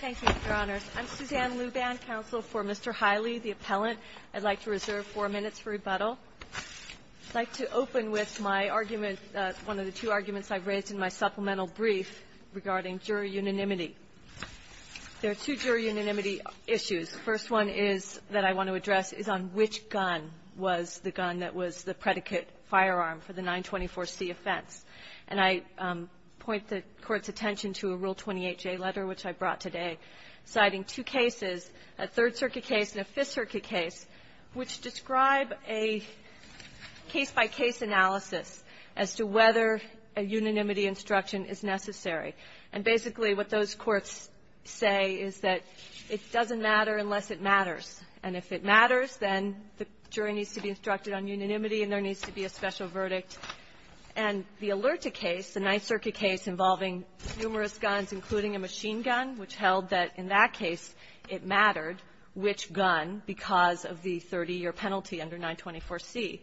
Thank you, Your Honors. I'm Suzanne Luban, counsel for Mr. Hiley, the appellant. I'd like to reserve four minutes for rebuttal. I'd like to open with my argument one of the two arguments I've raised in my supplemental brief regarding jury unanimity. There are two jury unanimity issues. The first one is that I want to address is on which gun was the gun that was the predicate firearm for the 924C offense. And I point the Court's attention to a Rule 28J letter, which I brought today, citing two cases, a Third Circuit case and a Fifth Circuit case, which describe a case-by-case analysis as to whether a unanimity instruction is necessary. And basically, what those courts say is that it doesn't matter unless it matters. And if it matters, then the jury needs to be instructed on unanimity and there needs to be a special verdict. And the Alerta case, the Ninth Circuit case involving numerous guns, including a machine gun, which held that, in that case, it mattered which gun because of the 30-year penalty under 924C,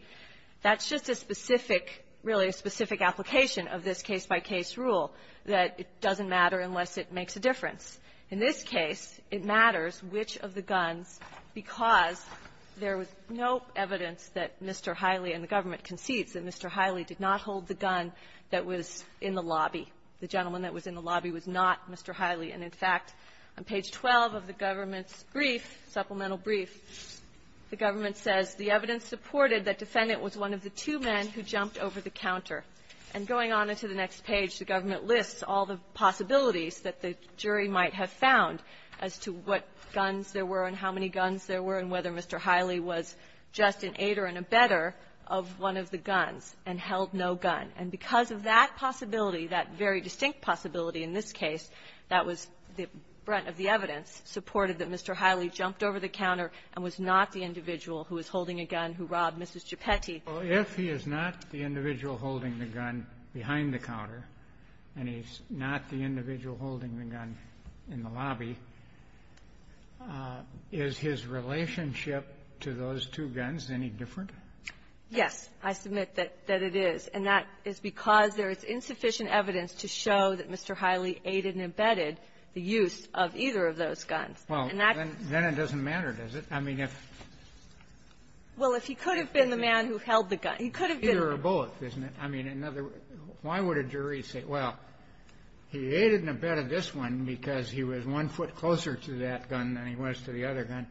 that's just a specific really a specific application of this case-by-case rule, that it doesn't matter unless it makes a difference. In this case, it matters which of the guns, because there was no evidence that Mr. Hiley and the government concedes that Mr. Hiley did not hold the gun that was in the lobby. The gentleman that was in the lobby was not Mr. Hiley. And, in fact, on page 12 of the government's brief, supplemental brief, the government says the evidence supported that defendant was one of the two men who jumped over the counter. And going on into the next page, the government says Mr. Hiley was just an aider and abetter of one of the guns and held no gun. And because of that possibility, that very distinct possibility in this case, that was the brunt of the evidence, supported that Mr. Hiley jumped over the counter and was not the individual who was holding a gun who robbed Mrs. Gepetti. Well, if he is not the individual holding the gun behind the counter and he's not the individual holding the gun in the lobby, is his relationship to those two guns any different? Yes. I submit that it is. And that is because there is insufficient evidence to show that Mr. Hiley aided and abetted the use of either of those guns. And that's the question. Well, then it doesn't matter, does it? I mean, if he's not the individual holding the gun. Well, if he could have been the man who held the gun, he could have been the man who held the gun. Well, then there's a possibility that he could have been the man who held the gun. Now, if he was the man who held the gun, then he could have relied on both, isn't it? I mean, another one. Why would a jury say, well, he aided and abetted this one because he was one foot closer to that gun than he was to the other gun.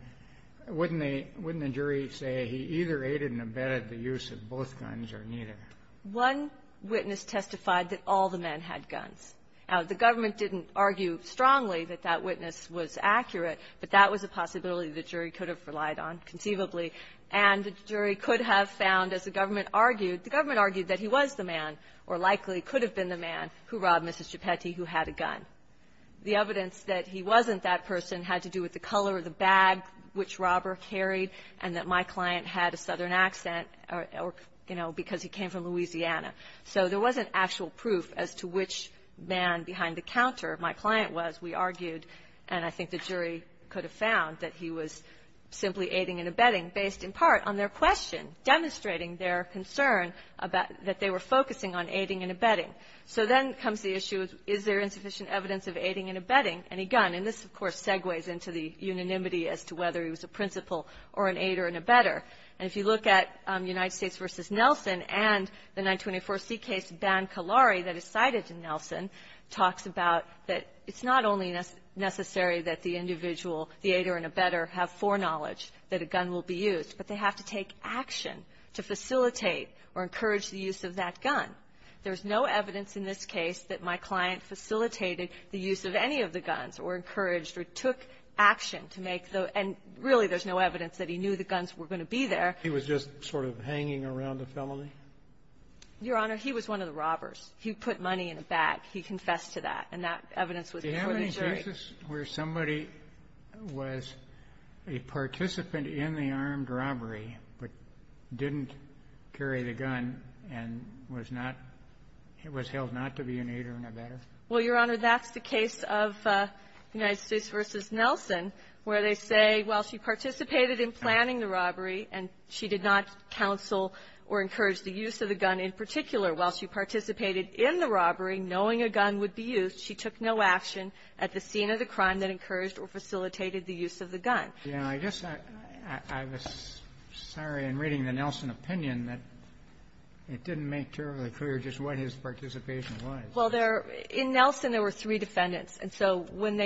Wouldn't they – wouldn't the jury say he either aided and abetted the use of both guns or neither? One witness testified that all the men had guns. Now, the government didn't argue strongly that that witness was accurate, but that was a possibility the jury could have relied on conceivably. And the jury could have found, as the government argued, the government argued that he was the man or likely could have been the man who robbed Mrs. Gepetti who had a gun. The evidence that he wasn't that person had to do with the color of the bag which robber carried and that my client had a southern accent or, you know, because he came from Louisiana. So there wasn't actual proof as to which man behind the counter my client was, we argued, and I think the jury could have found that he was simply aiding and abetting based, in part, on their question, demonstrating their concern about – that they were focusing on aiding and abetting. So then comes the issue of is there insufficient evidence of aiding and abetting any gun? And this, of course, segues into the unanimity as to whether he was a principal or an aider and abetter. And if you look at United States v. Nelson and the 924C case, Ban Kalari, that is cited in Nelson, talks about that it's not only necessary that the individual, the aider and abetter, have foreknowledge that a gun will be used, but they have to take action to facilitate or encourage the use of that gun. There's no evidence in this case that my client facilitated the use of any of the guns or encouraged or took action to make the – and really, there's no evidence that he knew the guns were going to be there. He was just sort of hanging around the felony? Your Honor, he was one of the robbers. He put money in a bag. He confessed to that. And that evidence was before the jury. Do you have any cases where somebody was a participant in the armed robbery but didn't carry the gun and was not – was held not to be an aider and abetter? Well, Your Honor, that's the case of United States v. Nelson, where they say, well, she participated in planning the robbery, and she did not counsel or encourage the use of the gun in particular. While she participated in the robbery, knowing a gun would be used, she took no action at the scene of the crime that encouraged or facilitated the use of the gun. Yeah. I guess I was sorry in reading the Nelson opinion that it didn't make terribly clear just what his participation was. Well, there – in Nelson, there were three defendants. We have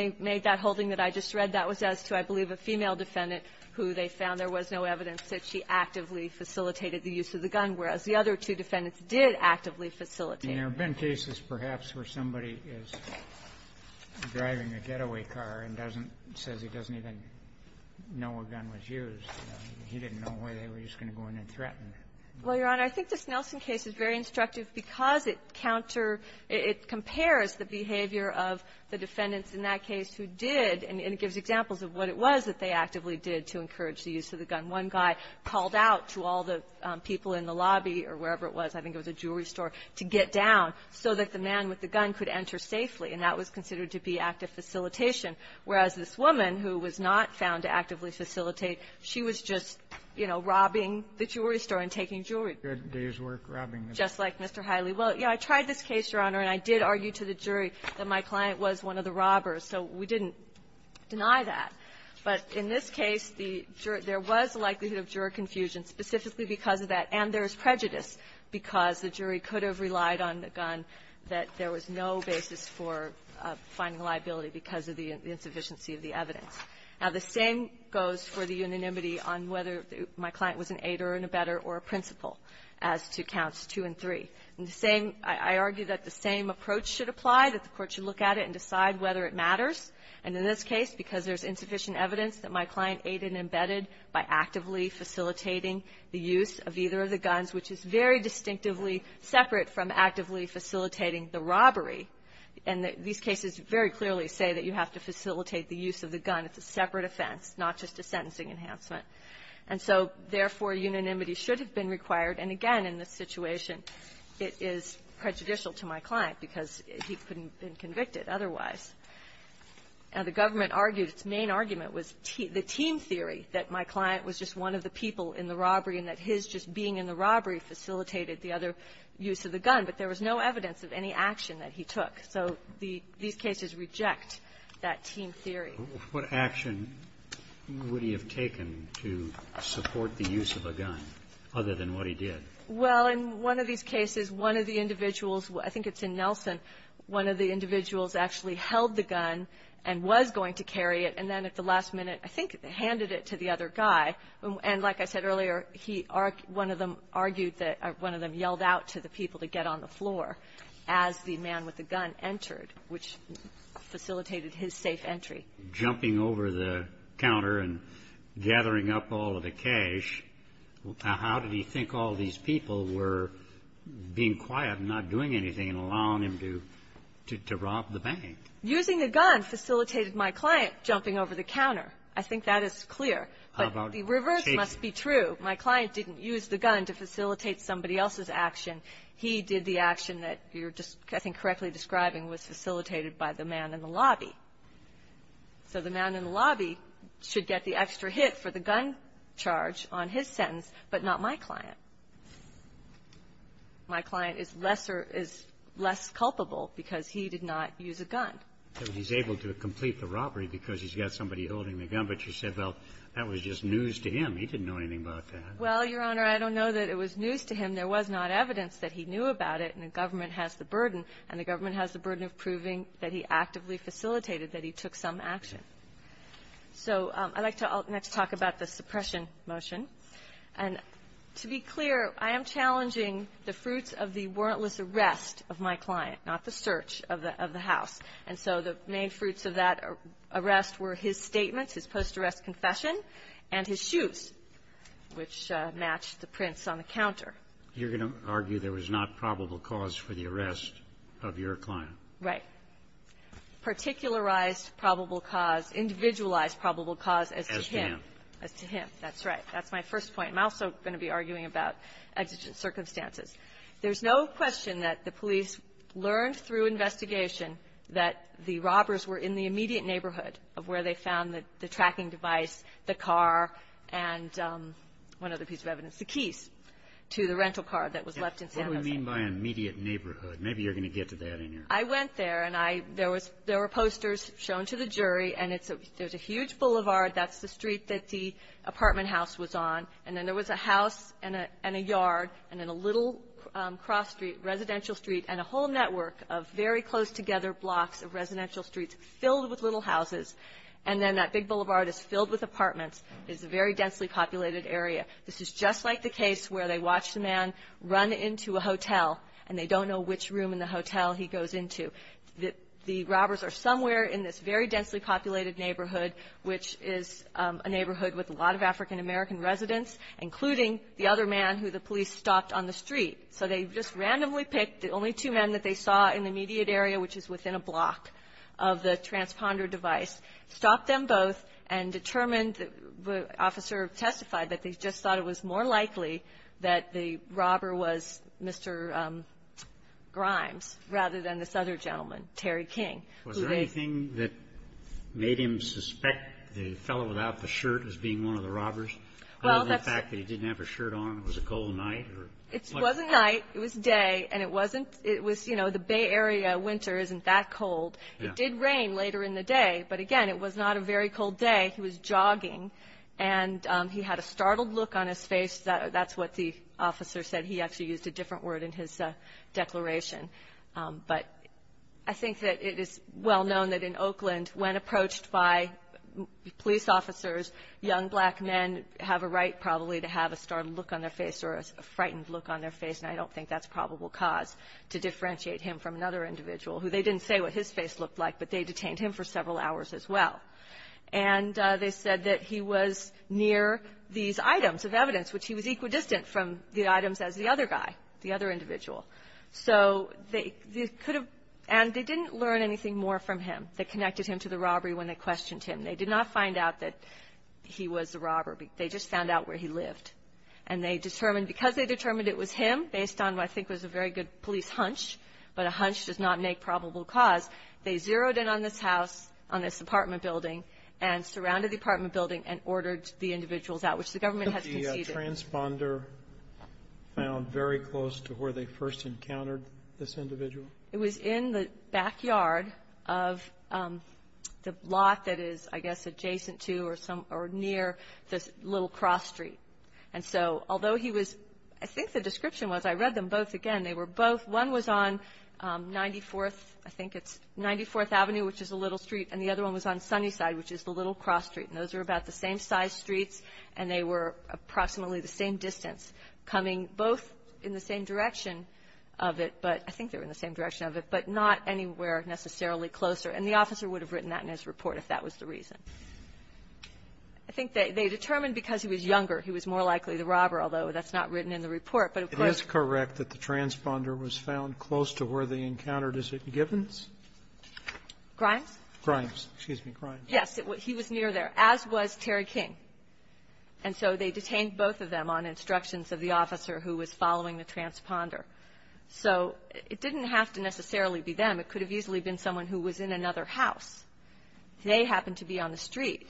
a female defendant who they found there was no evidence that she actively facilitated the use of the gun, whereas the other two defendants did actively facilitate. And there have been cases, perhaps, where somebody is driving a getaway car and doesn't – says he doesn't even know a gun was used. He didn't know, or they were just going to go in and threaten. Well, Your Honor, I think this Nelson case is very instructive because it counter – it compares the behavior of the defendants in that case who did, and it gives examples of what it was that they actively did to encourage the use of the gun. One guy called out to all the people in the lobby or wherever it was, I think it was a jewelry store, to get down so that the man with the gun could enter safely. And that was considered to be active facilitation, whereas this woman, who was not found to actively facilitate, she was just, you know, robbing the jewelry store and taking jewelry. You had a day's work robbing the store. Just like Mr. Hiley. Well, yeah, I tried this case, Your Honor, and I did argue to the jury that my client was one of the robbers. So we didn't deny that. But in this case, the jury – there was a likelihood of juror confusion specifically because of that. And there was prejudice because the jury could have relied on the gun that there was no basis for finding liability because of the insufficiency of the evidence. Now, the same goes for the unanimity on whether my client was an aider, an abetter, or a principal as to counts two and three. And the same – I argue that the same approach should apply, that the Court should look at it and decide whether it matters. And in this case, because there's insufficient evidence that my client aided and embedded by actively facilitating the use of either of the guns, which is very distinctively separate from actively facilitating the robbery. And these cases very clearly say that you have to facilitate the use of the gun. It's a separate offense, not just a sentencing enhancement. And so, therefore, unanimity should have been required. And, again, in this situation, it is prejudicial to my client because he couldn't have been convicted otherwise. Now, the government argued its main argument was the team theory, that my client was just one of the people in the robbery and that his just being in the robbery facilitated the other use of the gun. But there was no evidence of any action that he took. So the – these cases reject that team theory. What action would he have taken to support the use of a gun, other than what he did? Well, in one of these cases, one of the individuals – I think it's in Nelson – one of the individuals actually held the gun and was going to carry it, and then at the last minute, I think, handed it to the other guy. And like I said earlier, he – one of them argued that – one of them yelled out to the people to get on the floor as the man with the gun entered, which facilitated his safe entry. Jumping over the counter and gathering up all of the cash, how did he think all these people were being quiet and not doing anything and allowing him to rob the bank? Using the gun facilitated my client jumping over the counter. I think that is clear. But the reverse must be true. My client didn't use the gun to facilitate somebody else's action. He did the action that you're just – I think correctly describing was facilitated by the man in the lobby. So the man in the lobby should get the extra hit for the gun charge on his sentence, but not my client. My client is lesser – is less culpable because he did not use a gun. So he's able to complete the robbery because he's got somebody holding the gun, but you said, well, that was just news to him. He didn't know anything about that. Well, Your Honor, I don't know that it was news to him. There was not evidence that he knew about it, and the government has the burden, and the government has the burden of proving that he actively facilitated, that he took some action. So I'd like to – I'll next talk about the suppression motion. And to be clear, I am challenging the fruits of the warrantless arrest of my client, not the search of the – of the house. And so the main fruits of that arrest were his statements, his post-arrest confession, and his shoes, which matched the prints on the counter. You're going to argue there was not probable cause for the arrest of your client? Right. Particularized probable cause – individualized probable cause as to him. As to him. As to him. That's right. That's my first point. I'm also going to be arguing about exigent circumstances. There's no question that the police learned through investigation that the robbers were in the immediate neighborhood of where they found the tracking device, the car, and one other piece of evidence, the keys to the rental car that was left in San Jose. What do we mean by immediate neighborhood? Maybe you're going to get to that in your – I went there, and I – there was – there were posters shown to the jury, and it's a – there's a huge boulevard. That's the street that the apartment house was on. And then there was a house and a – and a yard, and then a little cross street, residential street, and a whole network of very close-together blocks of residential streets filled with little houses. And then that big boulevard is filled with apartments. It's a very densely populated area. This is just like the case where they watch the man run into a hotel, and they don't know which room in the hotel he goes into. The robbers are somewhere in this very densely populated neighborhood, which is the neighborhood with a lot of African-American residents, including the other man who the police stopped on the street. So they just randomly picked the only two men that they saw in the immediate area, which is within a block of the transponder device, stopped them both, and determined – the officer testified that they just thought it was more likely that the robber was Mr. Grimes rather than this other gentleman, Terry King, who they – The fellow without the shirt was being one of the robbers? Well, that's – Other than the fact that he didn't have a shirt on, it was a cold night, or – It wasn't night. It was day, and it wasn't – it was – you know, the Bay Area winter isn't that cold. Yeah. It did rain later in the day, but again, it was not a very cold day. He was jogging, and he had a startled look on his face. That's what the officer said. He actually used a different word in his declaration. But I think that it is well known that in Oakland, when approached by police officers, young black men have a right probably to have a startled look on their face or a frightened look on their face, and I don't think that's a probable cause to differentiate him from another individual who – they didn't say what his face looked like, but they detained him for several hours as well. And they said that he was near these items of evidence, which he was equidistant from the items as the other guy, the other individual. So they could have – and they didn't learn anything more from him that connected him to the robbery when they questioned him. They did not find out that he was the robber. They just found out where he lived. And they determined – because they determined it was him, based on what I think was a very good police hunch, but a hunch does not make probable cause, they zeroed in on this house, on this apartment building, and surrounded the apartment building and ordered the individuals out, which the government has conceded. Was the transponder found very close to where they first encountered this individual? It was in the backyard of the lot that is, I guess, adjacent to or some – or near this Little Cross Street. And so, although he was – I think the description was – I read them both again. They were both – one was on 94th – I think it's 94th Avenue, which is the Little Street, and the other one was on Sunnyside, which is the Little Cross Street. And those were about the same size streets, and they were approximately the same distance, coming both in the same direction of it, but – I think they were in the same direction of it, but not anywhere necessarily closer. And the officer would have written that in his report if that was the reason. I think they determined because he was younger, he was more likely the robber, although that's not written in the report. But of course – It is correct that the transponder was found close to where they encountered Issaac Givens? Grimes? Grimes. Excuse me. Grimes. Yes. He was near there, as was Terry King. And so they detained both of them on instructions of the officer who was following the transponder. So it didn't have to necessarily be them. It could have easily been someone who was in another house. They happened to be on the street.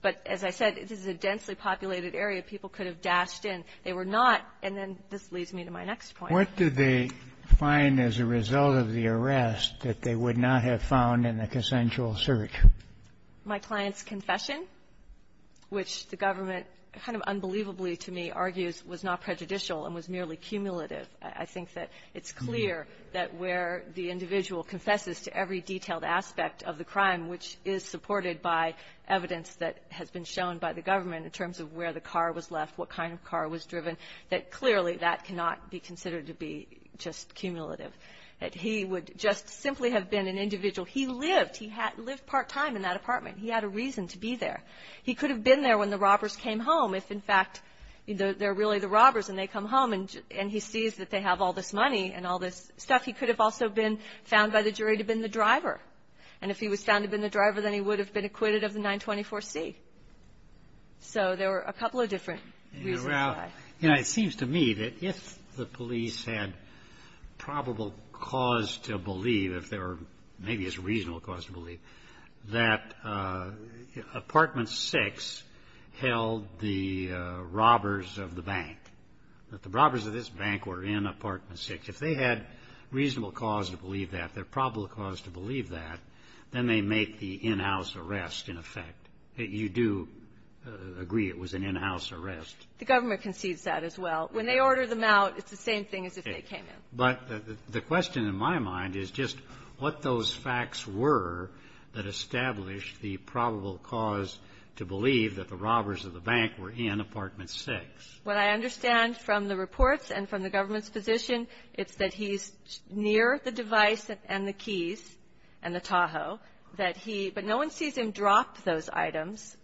But as I said, this is a densely populated area. People could have dashed in. They were not – and then this leads me to my next point. What did they find as a result of the arrest that they would not have found in the consensual search? My client's confession, which the government kind of unbelievably to me argues was not prejudicial and was merely cumulative. I think that it's clear that where the individual confesses to every detailed aspect of the crime, which is supported by evidence that has been shown by the government in terms of where the car was left, what kind of car was driven, that clearly that cannot be considered to be just cumulative, that he would just simply have been an individual. He lived. He lived part-time in that apartment. He had a reason to be there. He could have been there when the robbers came home, if in fact they're really the robbers and they come home and he sees that they have all this money and all this stuff. He could have also been found by the jury to have been the driver. And if he was found to have been the driver, then he would have been acquitted of the 924C. So there were a couple of different reasons why. You know, it seems to me that if the police had probable cause to believe, if there were maybe a reasonable cause to believe, that Apartment 6 held the robbers of the bank, that the robbers of this bank were in Apartment 6. If they had reasonable cause to believe that, their probable cause to believe that, then they make the in-house arrest, in effect. You do agree it was an in-house arrest. The government concedes that as well. When they order them out, it's the same thing as if they came in. But the question in my mind is just what those facts were that established the probable cause to believe that the robbers of the bank were in Apartment 6. What I understand from the reports and from the government's position, it's that he's near the device and the keys and the Tahoe, that he – but no one sees him drop those items.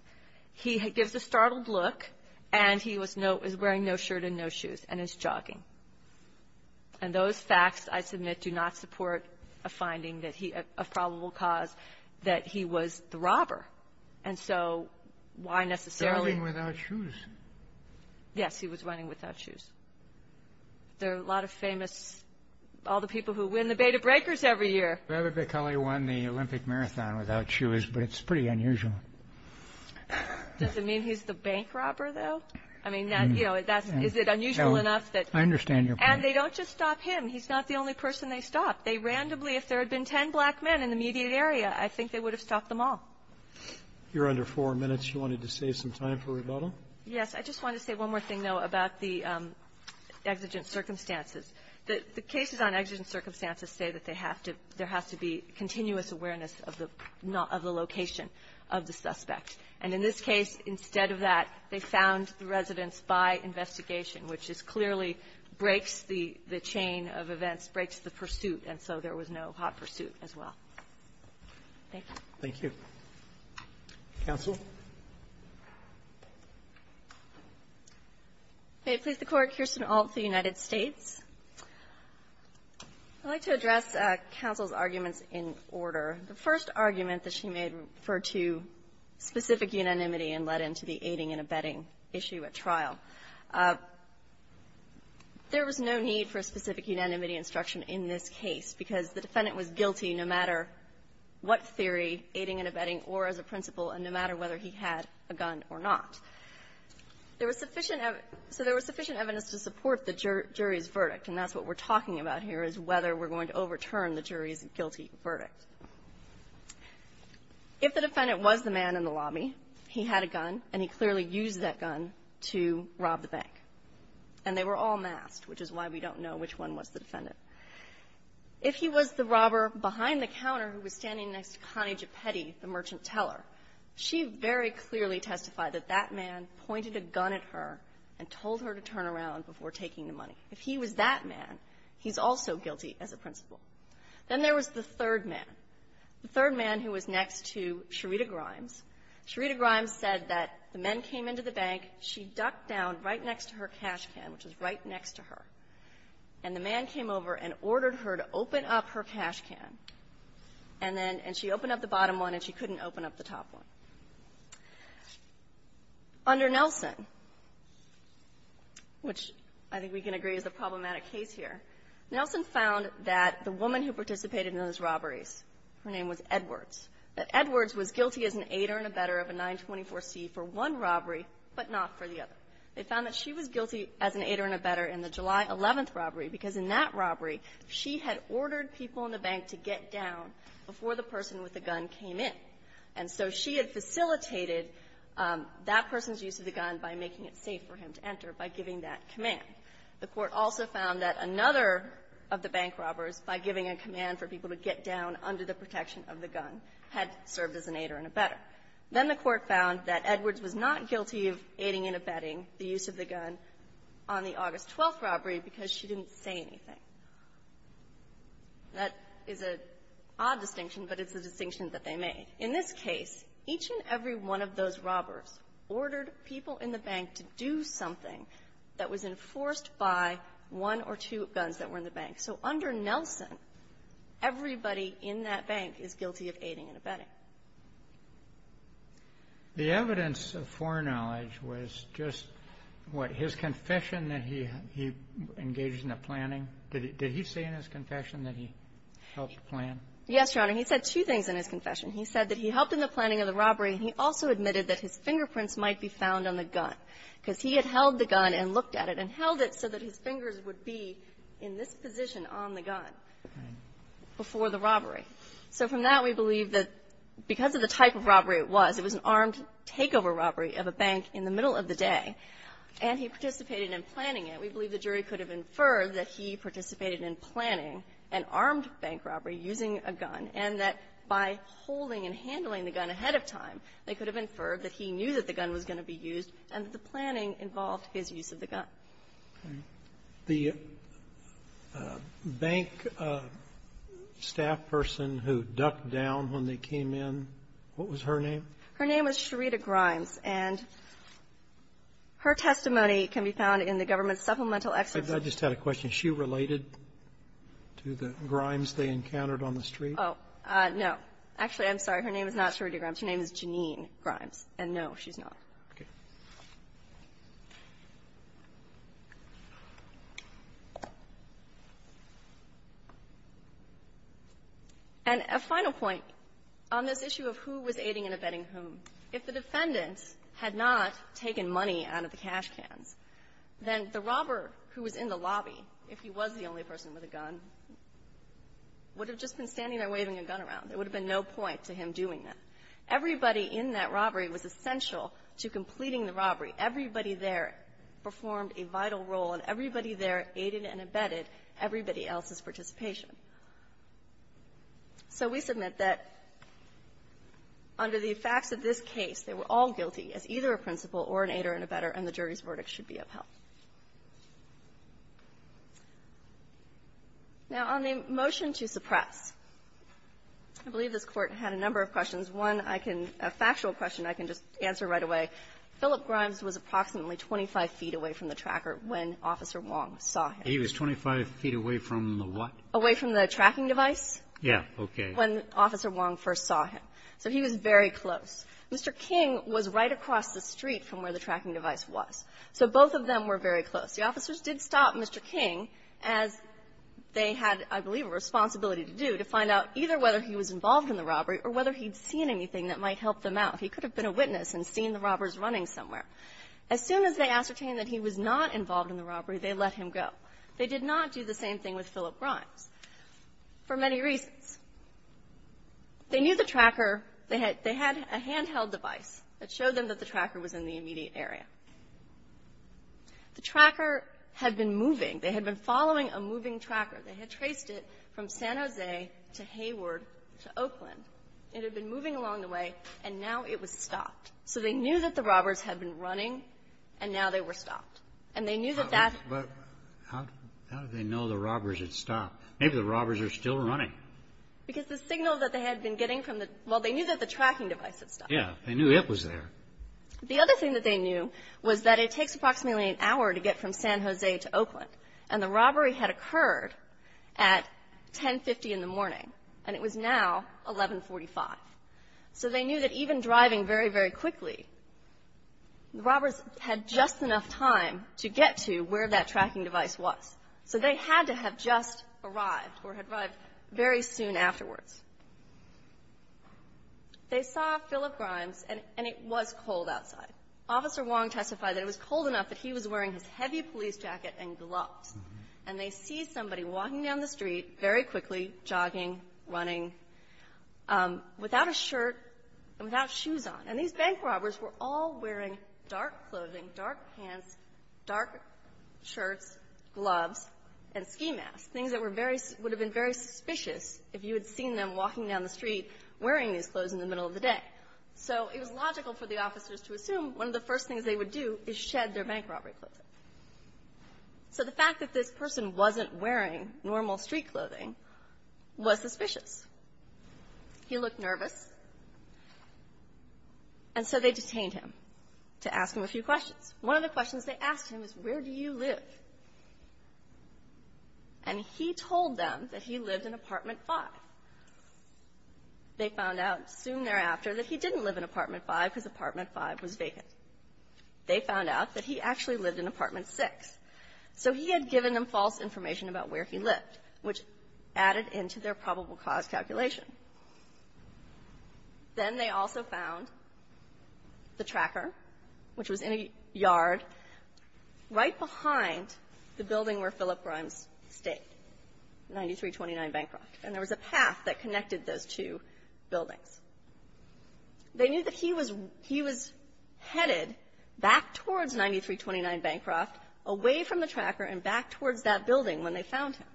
He gives a startled look, and he was no – is wearing no shirt and no shoes, and is jogging. And those facts, I submit, do not support a finding that he – a probable cause that he was the robber. And so why necessarily – Jogging without shoes? Yes. He was running without shoes. There are a lot of famous – all the people who win the beta breakers every year. Robert Bacali won the Olympic marathon without shoes, but it's pretty unusual. Does it mean he's the bank robber, though? I mean, that – you know, that's – is it unusual enough that – No. I understand your point. And they don't just stop him. He's not the only person they stop. They randomly – if there had been 10 black men in the immediate area, I think they would have stopped them all. You're under four minutes. You wanted to save some time for rebuttal? Yes. I just wanted to say one more thing, though, about the exigent circumstances. The cases on exigent circumstances say that they have to – there has to be continuous awareness of the location of the suspect. And in this case, instead of that, they found the residents by investigation, which is clearly breaks the chain of events, breaks the pursuit, and so there was no hot pursuit as well. Thank you. Thank you. Counsel? May it please the Court, here's an alt for the United States. I'd like to address counsel's arguments in order. The first argument that she made referred to specific unanimity and led into the aiding and abetting issue at trial. There was no need for specific unanimity instruction in this case because the defendant was guilty no matter what theory, aiding and abetting, or as a principal, and no matter whether he had a gun or not. There was sufficient – so there was sufficient evidence to support the jury's verdict, and that's what we're talking about here is whether we're going to overturn the jury's guilty verdict. If the defendant was the man in the lobby, he had a gun, and he clearly used that gun to rob the bank, and they were all masked, which is why we don't know which one was the defendant. If he was the robber behind the counter who was standing next to Connie Gepetti, the third man pointed a gun at her and told her to turn around before taking the money. If he was that man, he's also guilty as a principal. Then there was the third man, the third man who was next to Sherita Grimes. Sherita Grimes said that the men came into the bank. She ducked down right next to her cash can, which was right next to her. And the man came over and ordered her to open up her cash can, and then – and she opened up the bottom one, and she couldn't open up the top one. Under Nelson, which I think we can agree is a problematic case here, Nelson found that the woman who participated in those robberies, her name was Edwards, that Edwards was guilty as an aider and abetter of a 924C for one robbery, but not for the other. They found that she was guilty as an aider and abetter in the July 11th robbery because in that robbery, she had ordered people in the bank to get down before the person with the gun came in. And so she had facilitated that person's use of the gun by making it safe for him to enter by giving that command. The Court also found that another of the bank robbers, by giving a command for people to get down under the protection of the gun, had served as an aider and abetter. Then the Court found that Edwards was not guilty of aiding and abetting the use of the gun on the August 12th robbery because she didn't say anything. That is an odd distinction, but it's a distinction that they made. In this case, each and every one of those robbers ordered people in the bank to do something that was enforced by one or two guns that were in the bank. So under Nelson, everybody in that bank is guilty of aiding and abetting. The evidence of foreknowledge was just what? His confession that he engaged in the planning, did he say in his confession that he helped plan? Yes, Your Honor. He said two things in his confession. He said that he helped in the planning of the robbery, and he also admitted that his fingerprints might be found on the gun because he had held the gun and looked at it and held it so that his fingers would be in this position on the gun before the robbery. So from that, we believe that because of the type of robbery it was, it was an armed takeover robbery of a bank in the middle of the day, and he participated in planning it, we believe the jury could have inferred that he participated in planning an armed bank robbery using a gun, and that by holding and handling the gun ahead of time, they could have inferred that he knew that the gun was going to be used and that the planning involved his use of the gun. Okay. The bank staff person who ducked down when they came in, what was her name? Her name was Sherita Grimes, and her testimony can be found in the government's supplemental excerpts. I just had a question. She related to the Grimes they encountered on the street? Oh, no. Actually, I'm sorry. Her name is not Sherita Grimes. Her name is Jeanine Grimes, and no, she's not. Okay. And a final point on this issue of who was aiding and abetting whom. If the defendant had not taken money out of the cash cans, then the robber who was in the lobby, if he was the only person with a gun, would have just been standing there waving a gun around. There would have been no point to him doing that. Everybody in that robbery was essential to completing the robbery. Everybody there performed a vital role, and everybody there aided and abetted everybody else's participation. So we submit that under the facts of this case, they were all guilty as either a principal or an aider and abetter, and the jury's verdict should be upheld. Now, on the motion to suppress, I believe this Court had a number of questions. One, I can – a factual question I can just answer right away. Philip Grimes was approximately 25 feet away from the tracker when Officer Wong saw him. He was 25 feet away from the what? Away from the tracking device. Yeah. Okay. When Officer Wong first saw him. So he was very close. Mr. King was right across the street from where the tracking device was. So both of them were very close. The officers did stop Mr. King, as they had, I believe, a responsibility to do, to find out either whether he was involved in the robbery or whether he'd seen anything that might help them out. He could have been a witness and seen the robbers running somewhere. As soon as they ascertained that he was not involved in the robbery, they let him go. They did not do the same thing with Philip Grimes for many reasons. They knew the tracker. They had a handheld device that showed them that the tracker was in the immediate area. The tracker had been moving. They had been following a moving tracker. They had traced it from San Jose to Hayward to Oakland. It had been moving along the way and now it was stopped. So they knew that the robbers had been running and now they were stopped. And they knew that that. But how did they know the robbers had stopped? Maybe the robbers are still running. Because the signal that they had been getting from the, well, they knew that the tracking device had stopped. Yeah. They knew it was there. The other thing that they knew was that it takes approximately an hour to get from San Jose to Oakland. And the robbery had occurred at 10.50 in the morning. And it was now 11.45. So they knew that even driving very, very quickly, the robbers had just enough time to get to where that tracking device was. So they had to have just arrived or had arrived very soon afterwards. They saw Philip Grimes and it was cold outside. Officer Wong testified that it was cold enough that he was wearing his heavy police jacket and gloves. And they see somebody walking down the street very quickly, jogging, running, without a shirt and without shoes on. And these bank robbers were all wearing dark clothing, dark pants, dark shirts, gloves, and ski masks, things that were very – would have been very suspicious if you had seen them walking down the street wearing these clothes in the middle of the day. So it was logical for the officers to assume one of the first things they would do is So the fact that this person wasn't wearing normal street clothing was suspicious. He looked nervous. And so they detained him to ask him a few questions. One of the questions they asked him was, where do you live? And he told them that he lived in Apartment 5. They found out soon thereafter that he didn't live in Apartment 5 because Apartment 5 was vacant. They found out that he actually lived in Apartment 6. So he had given them false information about where he lived, which added into their probable cause calculation. Then they also found the tracker, which was in a yard right behind the building where Philip Grimes stayed, 9329 Bancroft. And there was a path that connected those two buildings. They knew that he was headed back towards 9329 Bancroft, away from the tracker and back towards that building when they found him.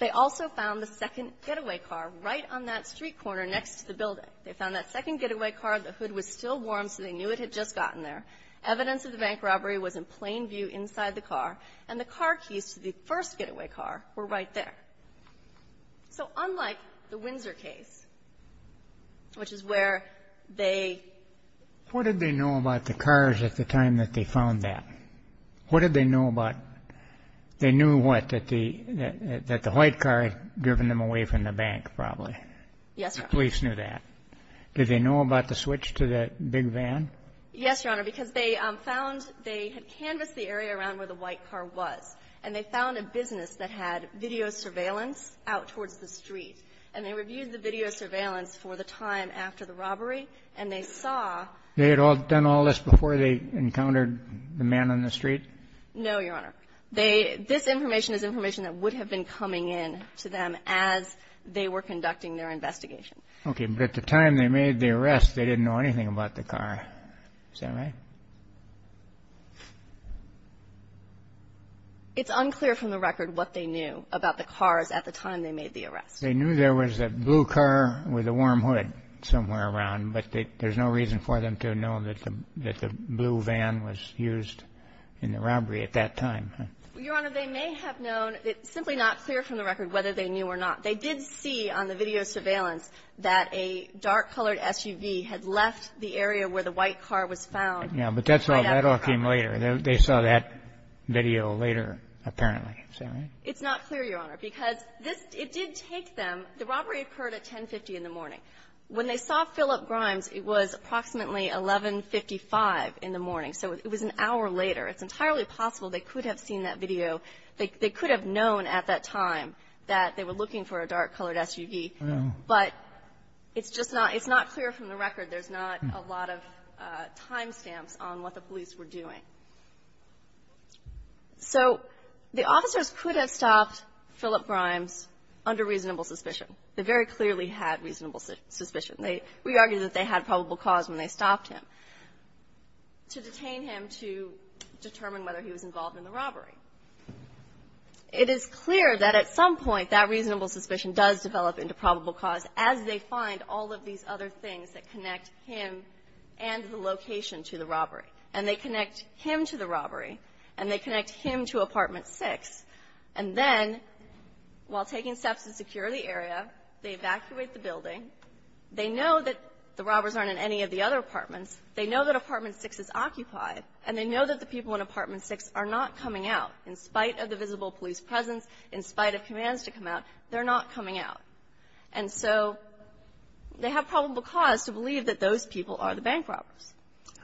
They also found the second getaway car right on that street corner next to the building. They found that second getaway car. The hood was still warm, so they knew it had just gotten there. Evidence of the bank robbery was in plain view inside the car. And the car keys to the first getaway car were right there. So unlike the Windsor case, which is where they ---- What did they know about the cars at the time that they found that? What did they know about? They knew what? That the white car had driven them away from the bank, probably. Yes, Your Honor. The police knew that. Did they know about the switch to that big van? Yes, Your Honor, because they found they had canvassed the area around where the white car was. And they found a business that had video surveillance out towards the street. And they reviewed the video surveillance for the time after the robbery, and they saw ---- They had done all this before they encountered the man on the street? No, Your Honor. This information is information that would have been coming in to them as they were conducting their investigation. Okay, but at the time they made the arrest, they didn't know anything about the car. Is that right? It's unclear from the record what they knew about the cars at the time they made the arrest. They knew there was a blue car with a warm hood somewhere around. But there's no reason for them to know that the blue van was used in the robbery at that time. Your Honor, they may have known. It's simply not clear from the record whether they knew or not. They did see on the video surveillance that a dark-colored SUV had left the area where the white car was found. Yes, but that all came later. They saw that video later, apparently. Is that right? It's not clear, Your Honor, because it did take them ---- The robbery occurred at 10.50 in the morning. When they saw Philip Grimes, it was approximately 11.55 in the morning. So it was an hour later. It's entirely possible they could have seen that video. They could have known at that time that they were looking for a dark-colored SUV. But it's just not clear from the record. There's not a lot of time stamps on what the police were doing. So the officers could have stopped Philip Grimes under reasonable suspicion. They very clearly had reasonable suspicion. We argue that they had probable cause when they stopped him to detain him to determine whether he was involved in the robbery. It is clear that at some point that reasonable suspicion does develop into probable cause as they find all of these other things that connect him and the location to the robbery. And they connect him to the robbery. And they connect him to Apartment 6. And then, while taking steps to secure the area, they evacuate the building. They know that the robbers aren't in any of the other apartments. They know that Apartment 6 is occupied. And they know that the people in Apartment 6 are not coming out. In spite of the visible police presence, in spite of commands to come out, they're not coming out. And so they have probable cause to believe that those people are the bank robbers.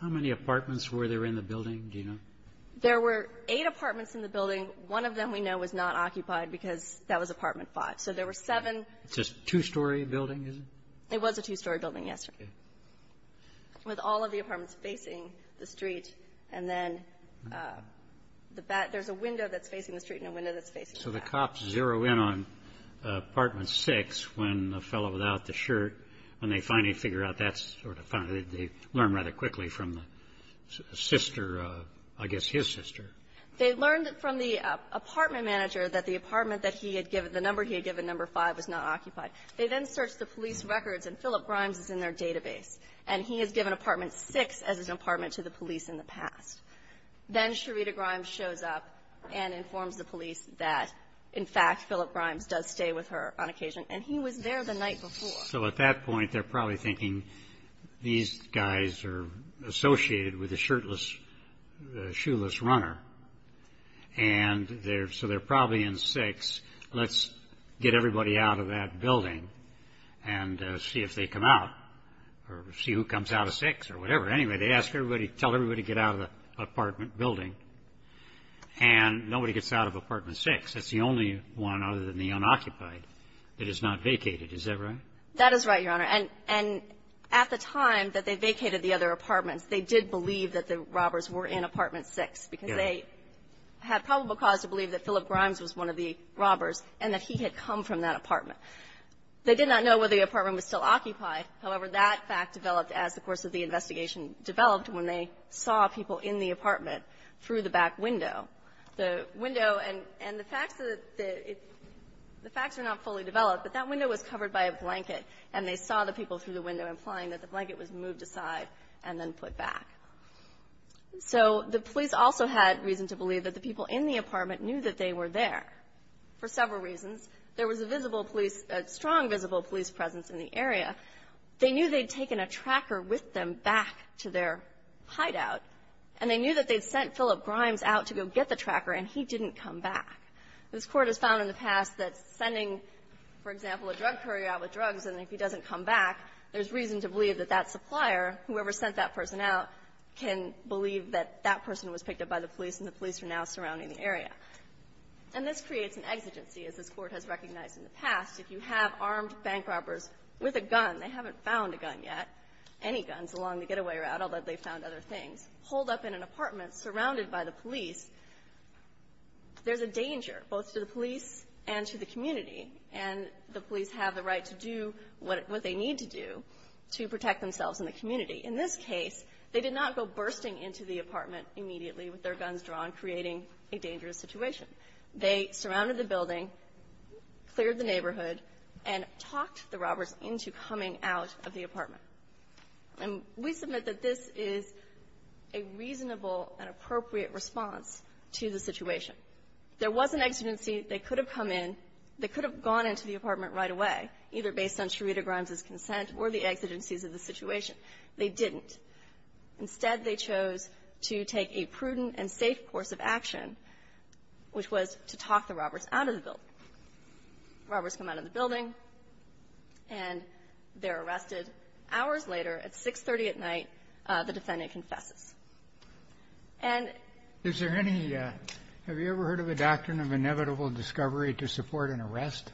How many apartments were there in the building? Do you know? There were eight apartments in the building. One of them we know was not occupied because that was Apartment 5. So there were seven. It's a two-story building, is it? It was a two-story building, yes, sir. Okay. With all of the apartments facing the street. And then there's a window that's facing the street and a window that's facing the back. Okay. So the cops zero in on Apartment 6 when the fellow without the shirt, when they finally figure out that's sort of fun, they learn rather quickly from the sister, I guess his sister. They learned from the apartment manager that the apartment that he had given, the number he had given, number 5, was not occupied. They then searched the police records, and Philip Grimes is in their database. And he has given Apartment 6 as his apartment to the police in the past. Then Sherita Grimes shows up and informs the police that, in fact, Philip Grimes does stay with her on occasion. And he was there the night before. So at that point, they're probably thinking, these guys are associated with a shirtless, shoeless runner. And so they're probably in 6. Let's get everybody out of that building and see if they come out or see who comes out of 6 or whatever. Anyway, they ask everybody, tell everybody to get out of the apartment building, and nobody gets out of Apartment 6. That's the only one other than the unoccupied that is not vacated. Is that right? That is right, Your Honor. And at the time that they vacated the other apartments, they did believe that the robbers were in Apartment 6. Yes. Because they had probable cause to believe that Philip Grimes was one of the robbers and that he had come from that apartment. They did not know whether the apartment was still occupied. However, that fact developed as the course of the investigation developed when they saw people in the apartment through the back window. The window and the facts are not fully developed, but that window was covered by a blanket, and they saw the people through the window implying that the blanket was moved aside and then put back. So the police also had reason to believe that the people in the apartment knew that they were there for several reasons. There was a visible police, a strong visible police presence in the area. They knew they'd taken a tracker with them back to their hideout, and they knew that they'd sent Philip Grimes out to go get the tracker, and he didn't come back. This Court has found in the past that sending, for example, a drug courier out with drugs, and if he doesn't come back, there's reason to believe that that supplier, whoever sent that person out, can believe that that person was picked up by the police, and the police are now surrounding the area. And this creates an exigency, as this Court has recognized in the past. If you have armed bank robbers with a gun, they haven't found a gun yet, any guns along the getaway route, although they've found other things, holed up in an apartment surrounded by the police, there's a danger, both to the police and to the community. And the police have the right to do what they need to do to protect themselves and the community. In this case, they did not go bursting into the apartment immediately with their guns drawn, creating a dangerous situation. They surrounded the building, cleared the neighborhood, and talked the robbers into coming out of the apartment. And we submit that this is a reasonable and appropriate response to the situation. There was an exigency. They could have come in. They could have gone into the apartment right away, either based on Charita Grimes' consent or the exigencies of the situation. They didn't. Instead, they chose to take a prudent and safe course of action, which was to talk the robbers out of the building. Robbers come out of the building, and they're arrested. Hours later, at 6.30 at night, the defendant confesses. And — Kennedy. Is there any — have you ever heard of a doctrine of inevitable discovery to support an arrest?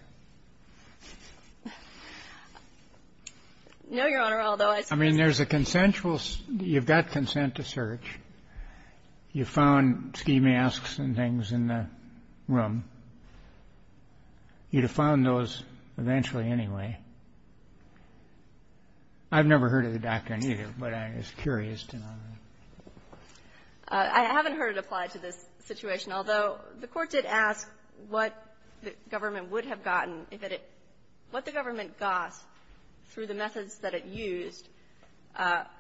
No, Your Honor, although I suppose — I mean, there's a consensual — you've got consent to search. You found ski masks and things in the room. You'd have found those eventually anyway. I've never heard of the doctrine, either, but I'm just curious to know. I haven't heard it applied to this situation, although the Court did ask what the government would have gotten out of it. What the government got, through the methods that it used, that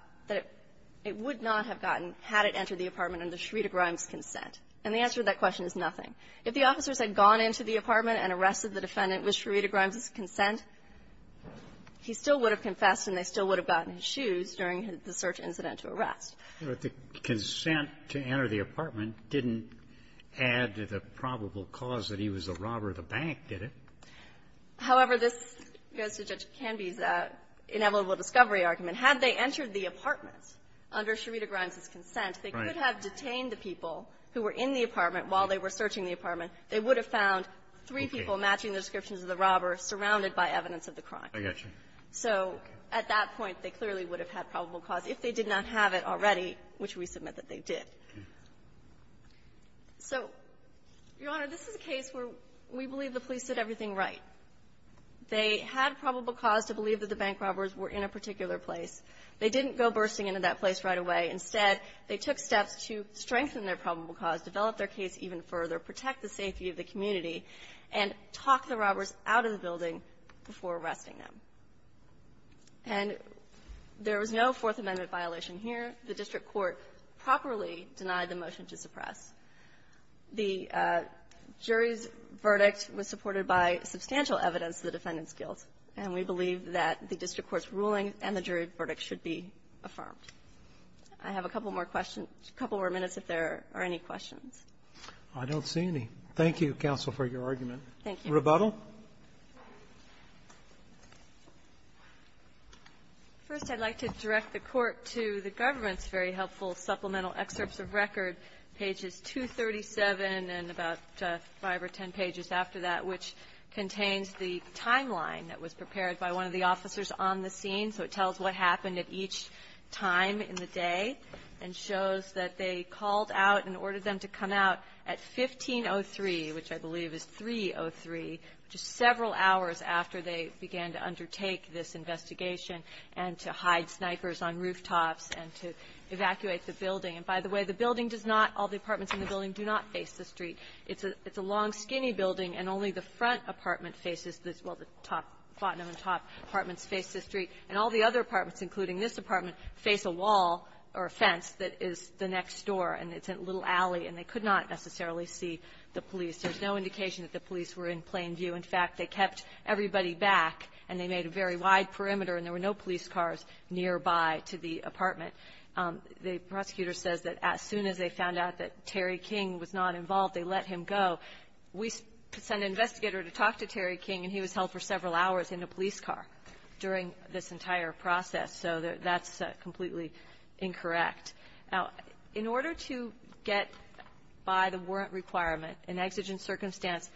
it would not have gotten had it entered the apartment under Charita Grimes' consent. And the answer to that question is nothing. If the officers had gone into the apartment and arrested the defendant with Charita Grimes' consent, he still would have confessed, and they still would have gotten his shoes during the search incident to arrest. But the consent to enter the apartment didn't add to the probable cause that he was a robber. The bank did it. However, this goes to Judge Canby's inevitable discovery argument. Had they entered the apartment under Charita Grimes' consent, they could have detained the people who were in the apartment while they were searching the apartment. They would have found three people matching the descriptions of the robber surrounded by evidence of the crime. I got you. So at that point, they clearly would have had probable cause if they did not have it already, which we submit that they did. So, Your Honor, this is a case where we believe the police did everything right. They had probable cause to believe that the bank robbers were in a particular place. They didn't go bursting into that place right away. Instead, they took steps to strengthen their probable cause, develop their case even further, protect the safety of the community, and talk the robbers out of the building before arresting them. And there was no Fourth Amendment violation here. The district court properly denied the motion to suppress. The jury's verdict was supported by substantial evidence of the defendant's guilt. And we believe that the district court's ruling and the jury's verdict should be affirmed. I have a couple more questions, a couple more minutes if there are any questions. I don't see any. Thank you, counsel, for your argument. Thank you. Rebuttal. First, I'd like to direct the Court to the government's very helpful supplemental excerpts of record, pages 237 and about 5 or 10 pages after that, which contains the timeline that was prepared by one of the officers on the scene. So it tells what happened at each time in the day and shows that they called out and they called out at 1503, which I believe is 303, which is several hours after they began to undertake this investigation and to hide snipers on rooftops and to evacuate the building. And by the way, the building does not, all the apartments in the building do not face the street. It's a long, skinny building, and only the front apartment faces this. Well, the top, the top apartments face the street. And all the other apartments, including this apartment, face a wall or a fence that is the next door. And it's a little alley, and they could not necessarily see the police. There's no indication that the police were in plain view. In fact, they kept everybody back, and they made a very wide perimeter, and there were no police cars nearby to the apartment. The prosecutor says that as soon as they found out that Terry King was not involved, they let him go. We sent an investigator to talk to Terry King, and he was held for several hours in a police car during this entire process. So that's completely incorrect. Now, in order to get by the warrant requirement, in exigent circumstance,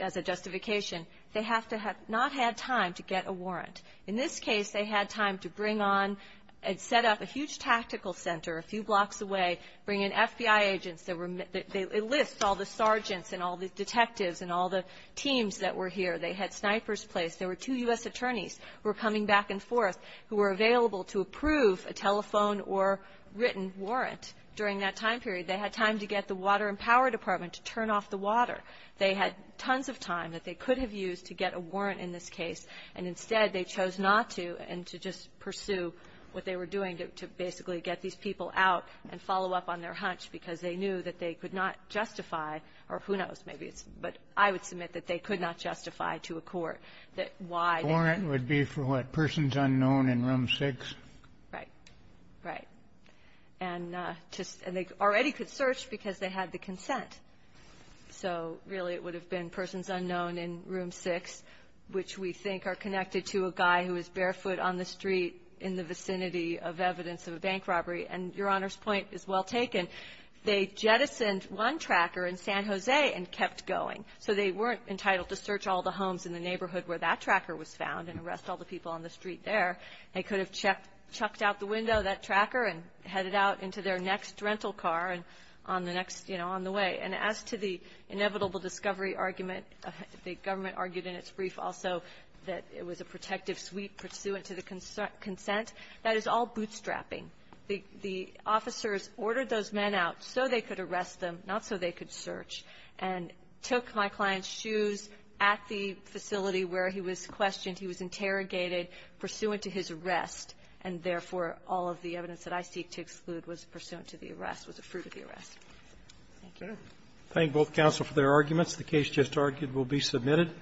as a justification, they have to have not had time to get a warrant. In this case, they had time to bring on and set up a huge tactical center a few blocks away, bring in FBI agents that were – they enlist all the sergeants and all the detectives and all the teams that were here. They had snipers placed. There were two U.S. attorneys who were coming back and forth who were available to approve a telephone or written warrant during that time period. They had time to get the Water and Power Department to turn off the water. They had tons of time that they could have used to get a warrant in this case. And instead, they chose not to and to just pursue what they were doing to basically get these people out and follow up on their hunch, because they knew that they could not justify – or who knows, maybe it's – but I would submit that they could not justify to a court that why they – For what? Persons unknown in Room 6? Right. Right. And just – and they already could search because they had the consent. So really, it would have been persons unknown in Room 6, which we think are connected to a guy who was barefoot on the street in the vicinity of evidence of a bank robbery. And Your Honor's point is well taken. They jettisoned one tracker in San Jose and kept going. So they weren't entitled to search all the homes in the neighborhood where that guy was and all the people on the street there. They could have checked – chucked out the window, that tracker, and headed out into their next rental car and on the next – you know, on the way. And as to the inevitable discovery argument, the government argued in its brief also that it was a protective suite pursuant to the consent. That is all bootstrapping. The officers ordered those men out so they could arrest them, not so they could search, and took my client's shoes at the facility where he was questioned. He was interrogated pursuant to his arrest, and therefore all of the evidence that I seek to exclude was pursuant to the arrest, was a fruit of the arrest. Thank you. Thank both counsel for their arguments. The case just argued will be submitted.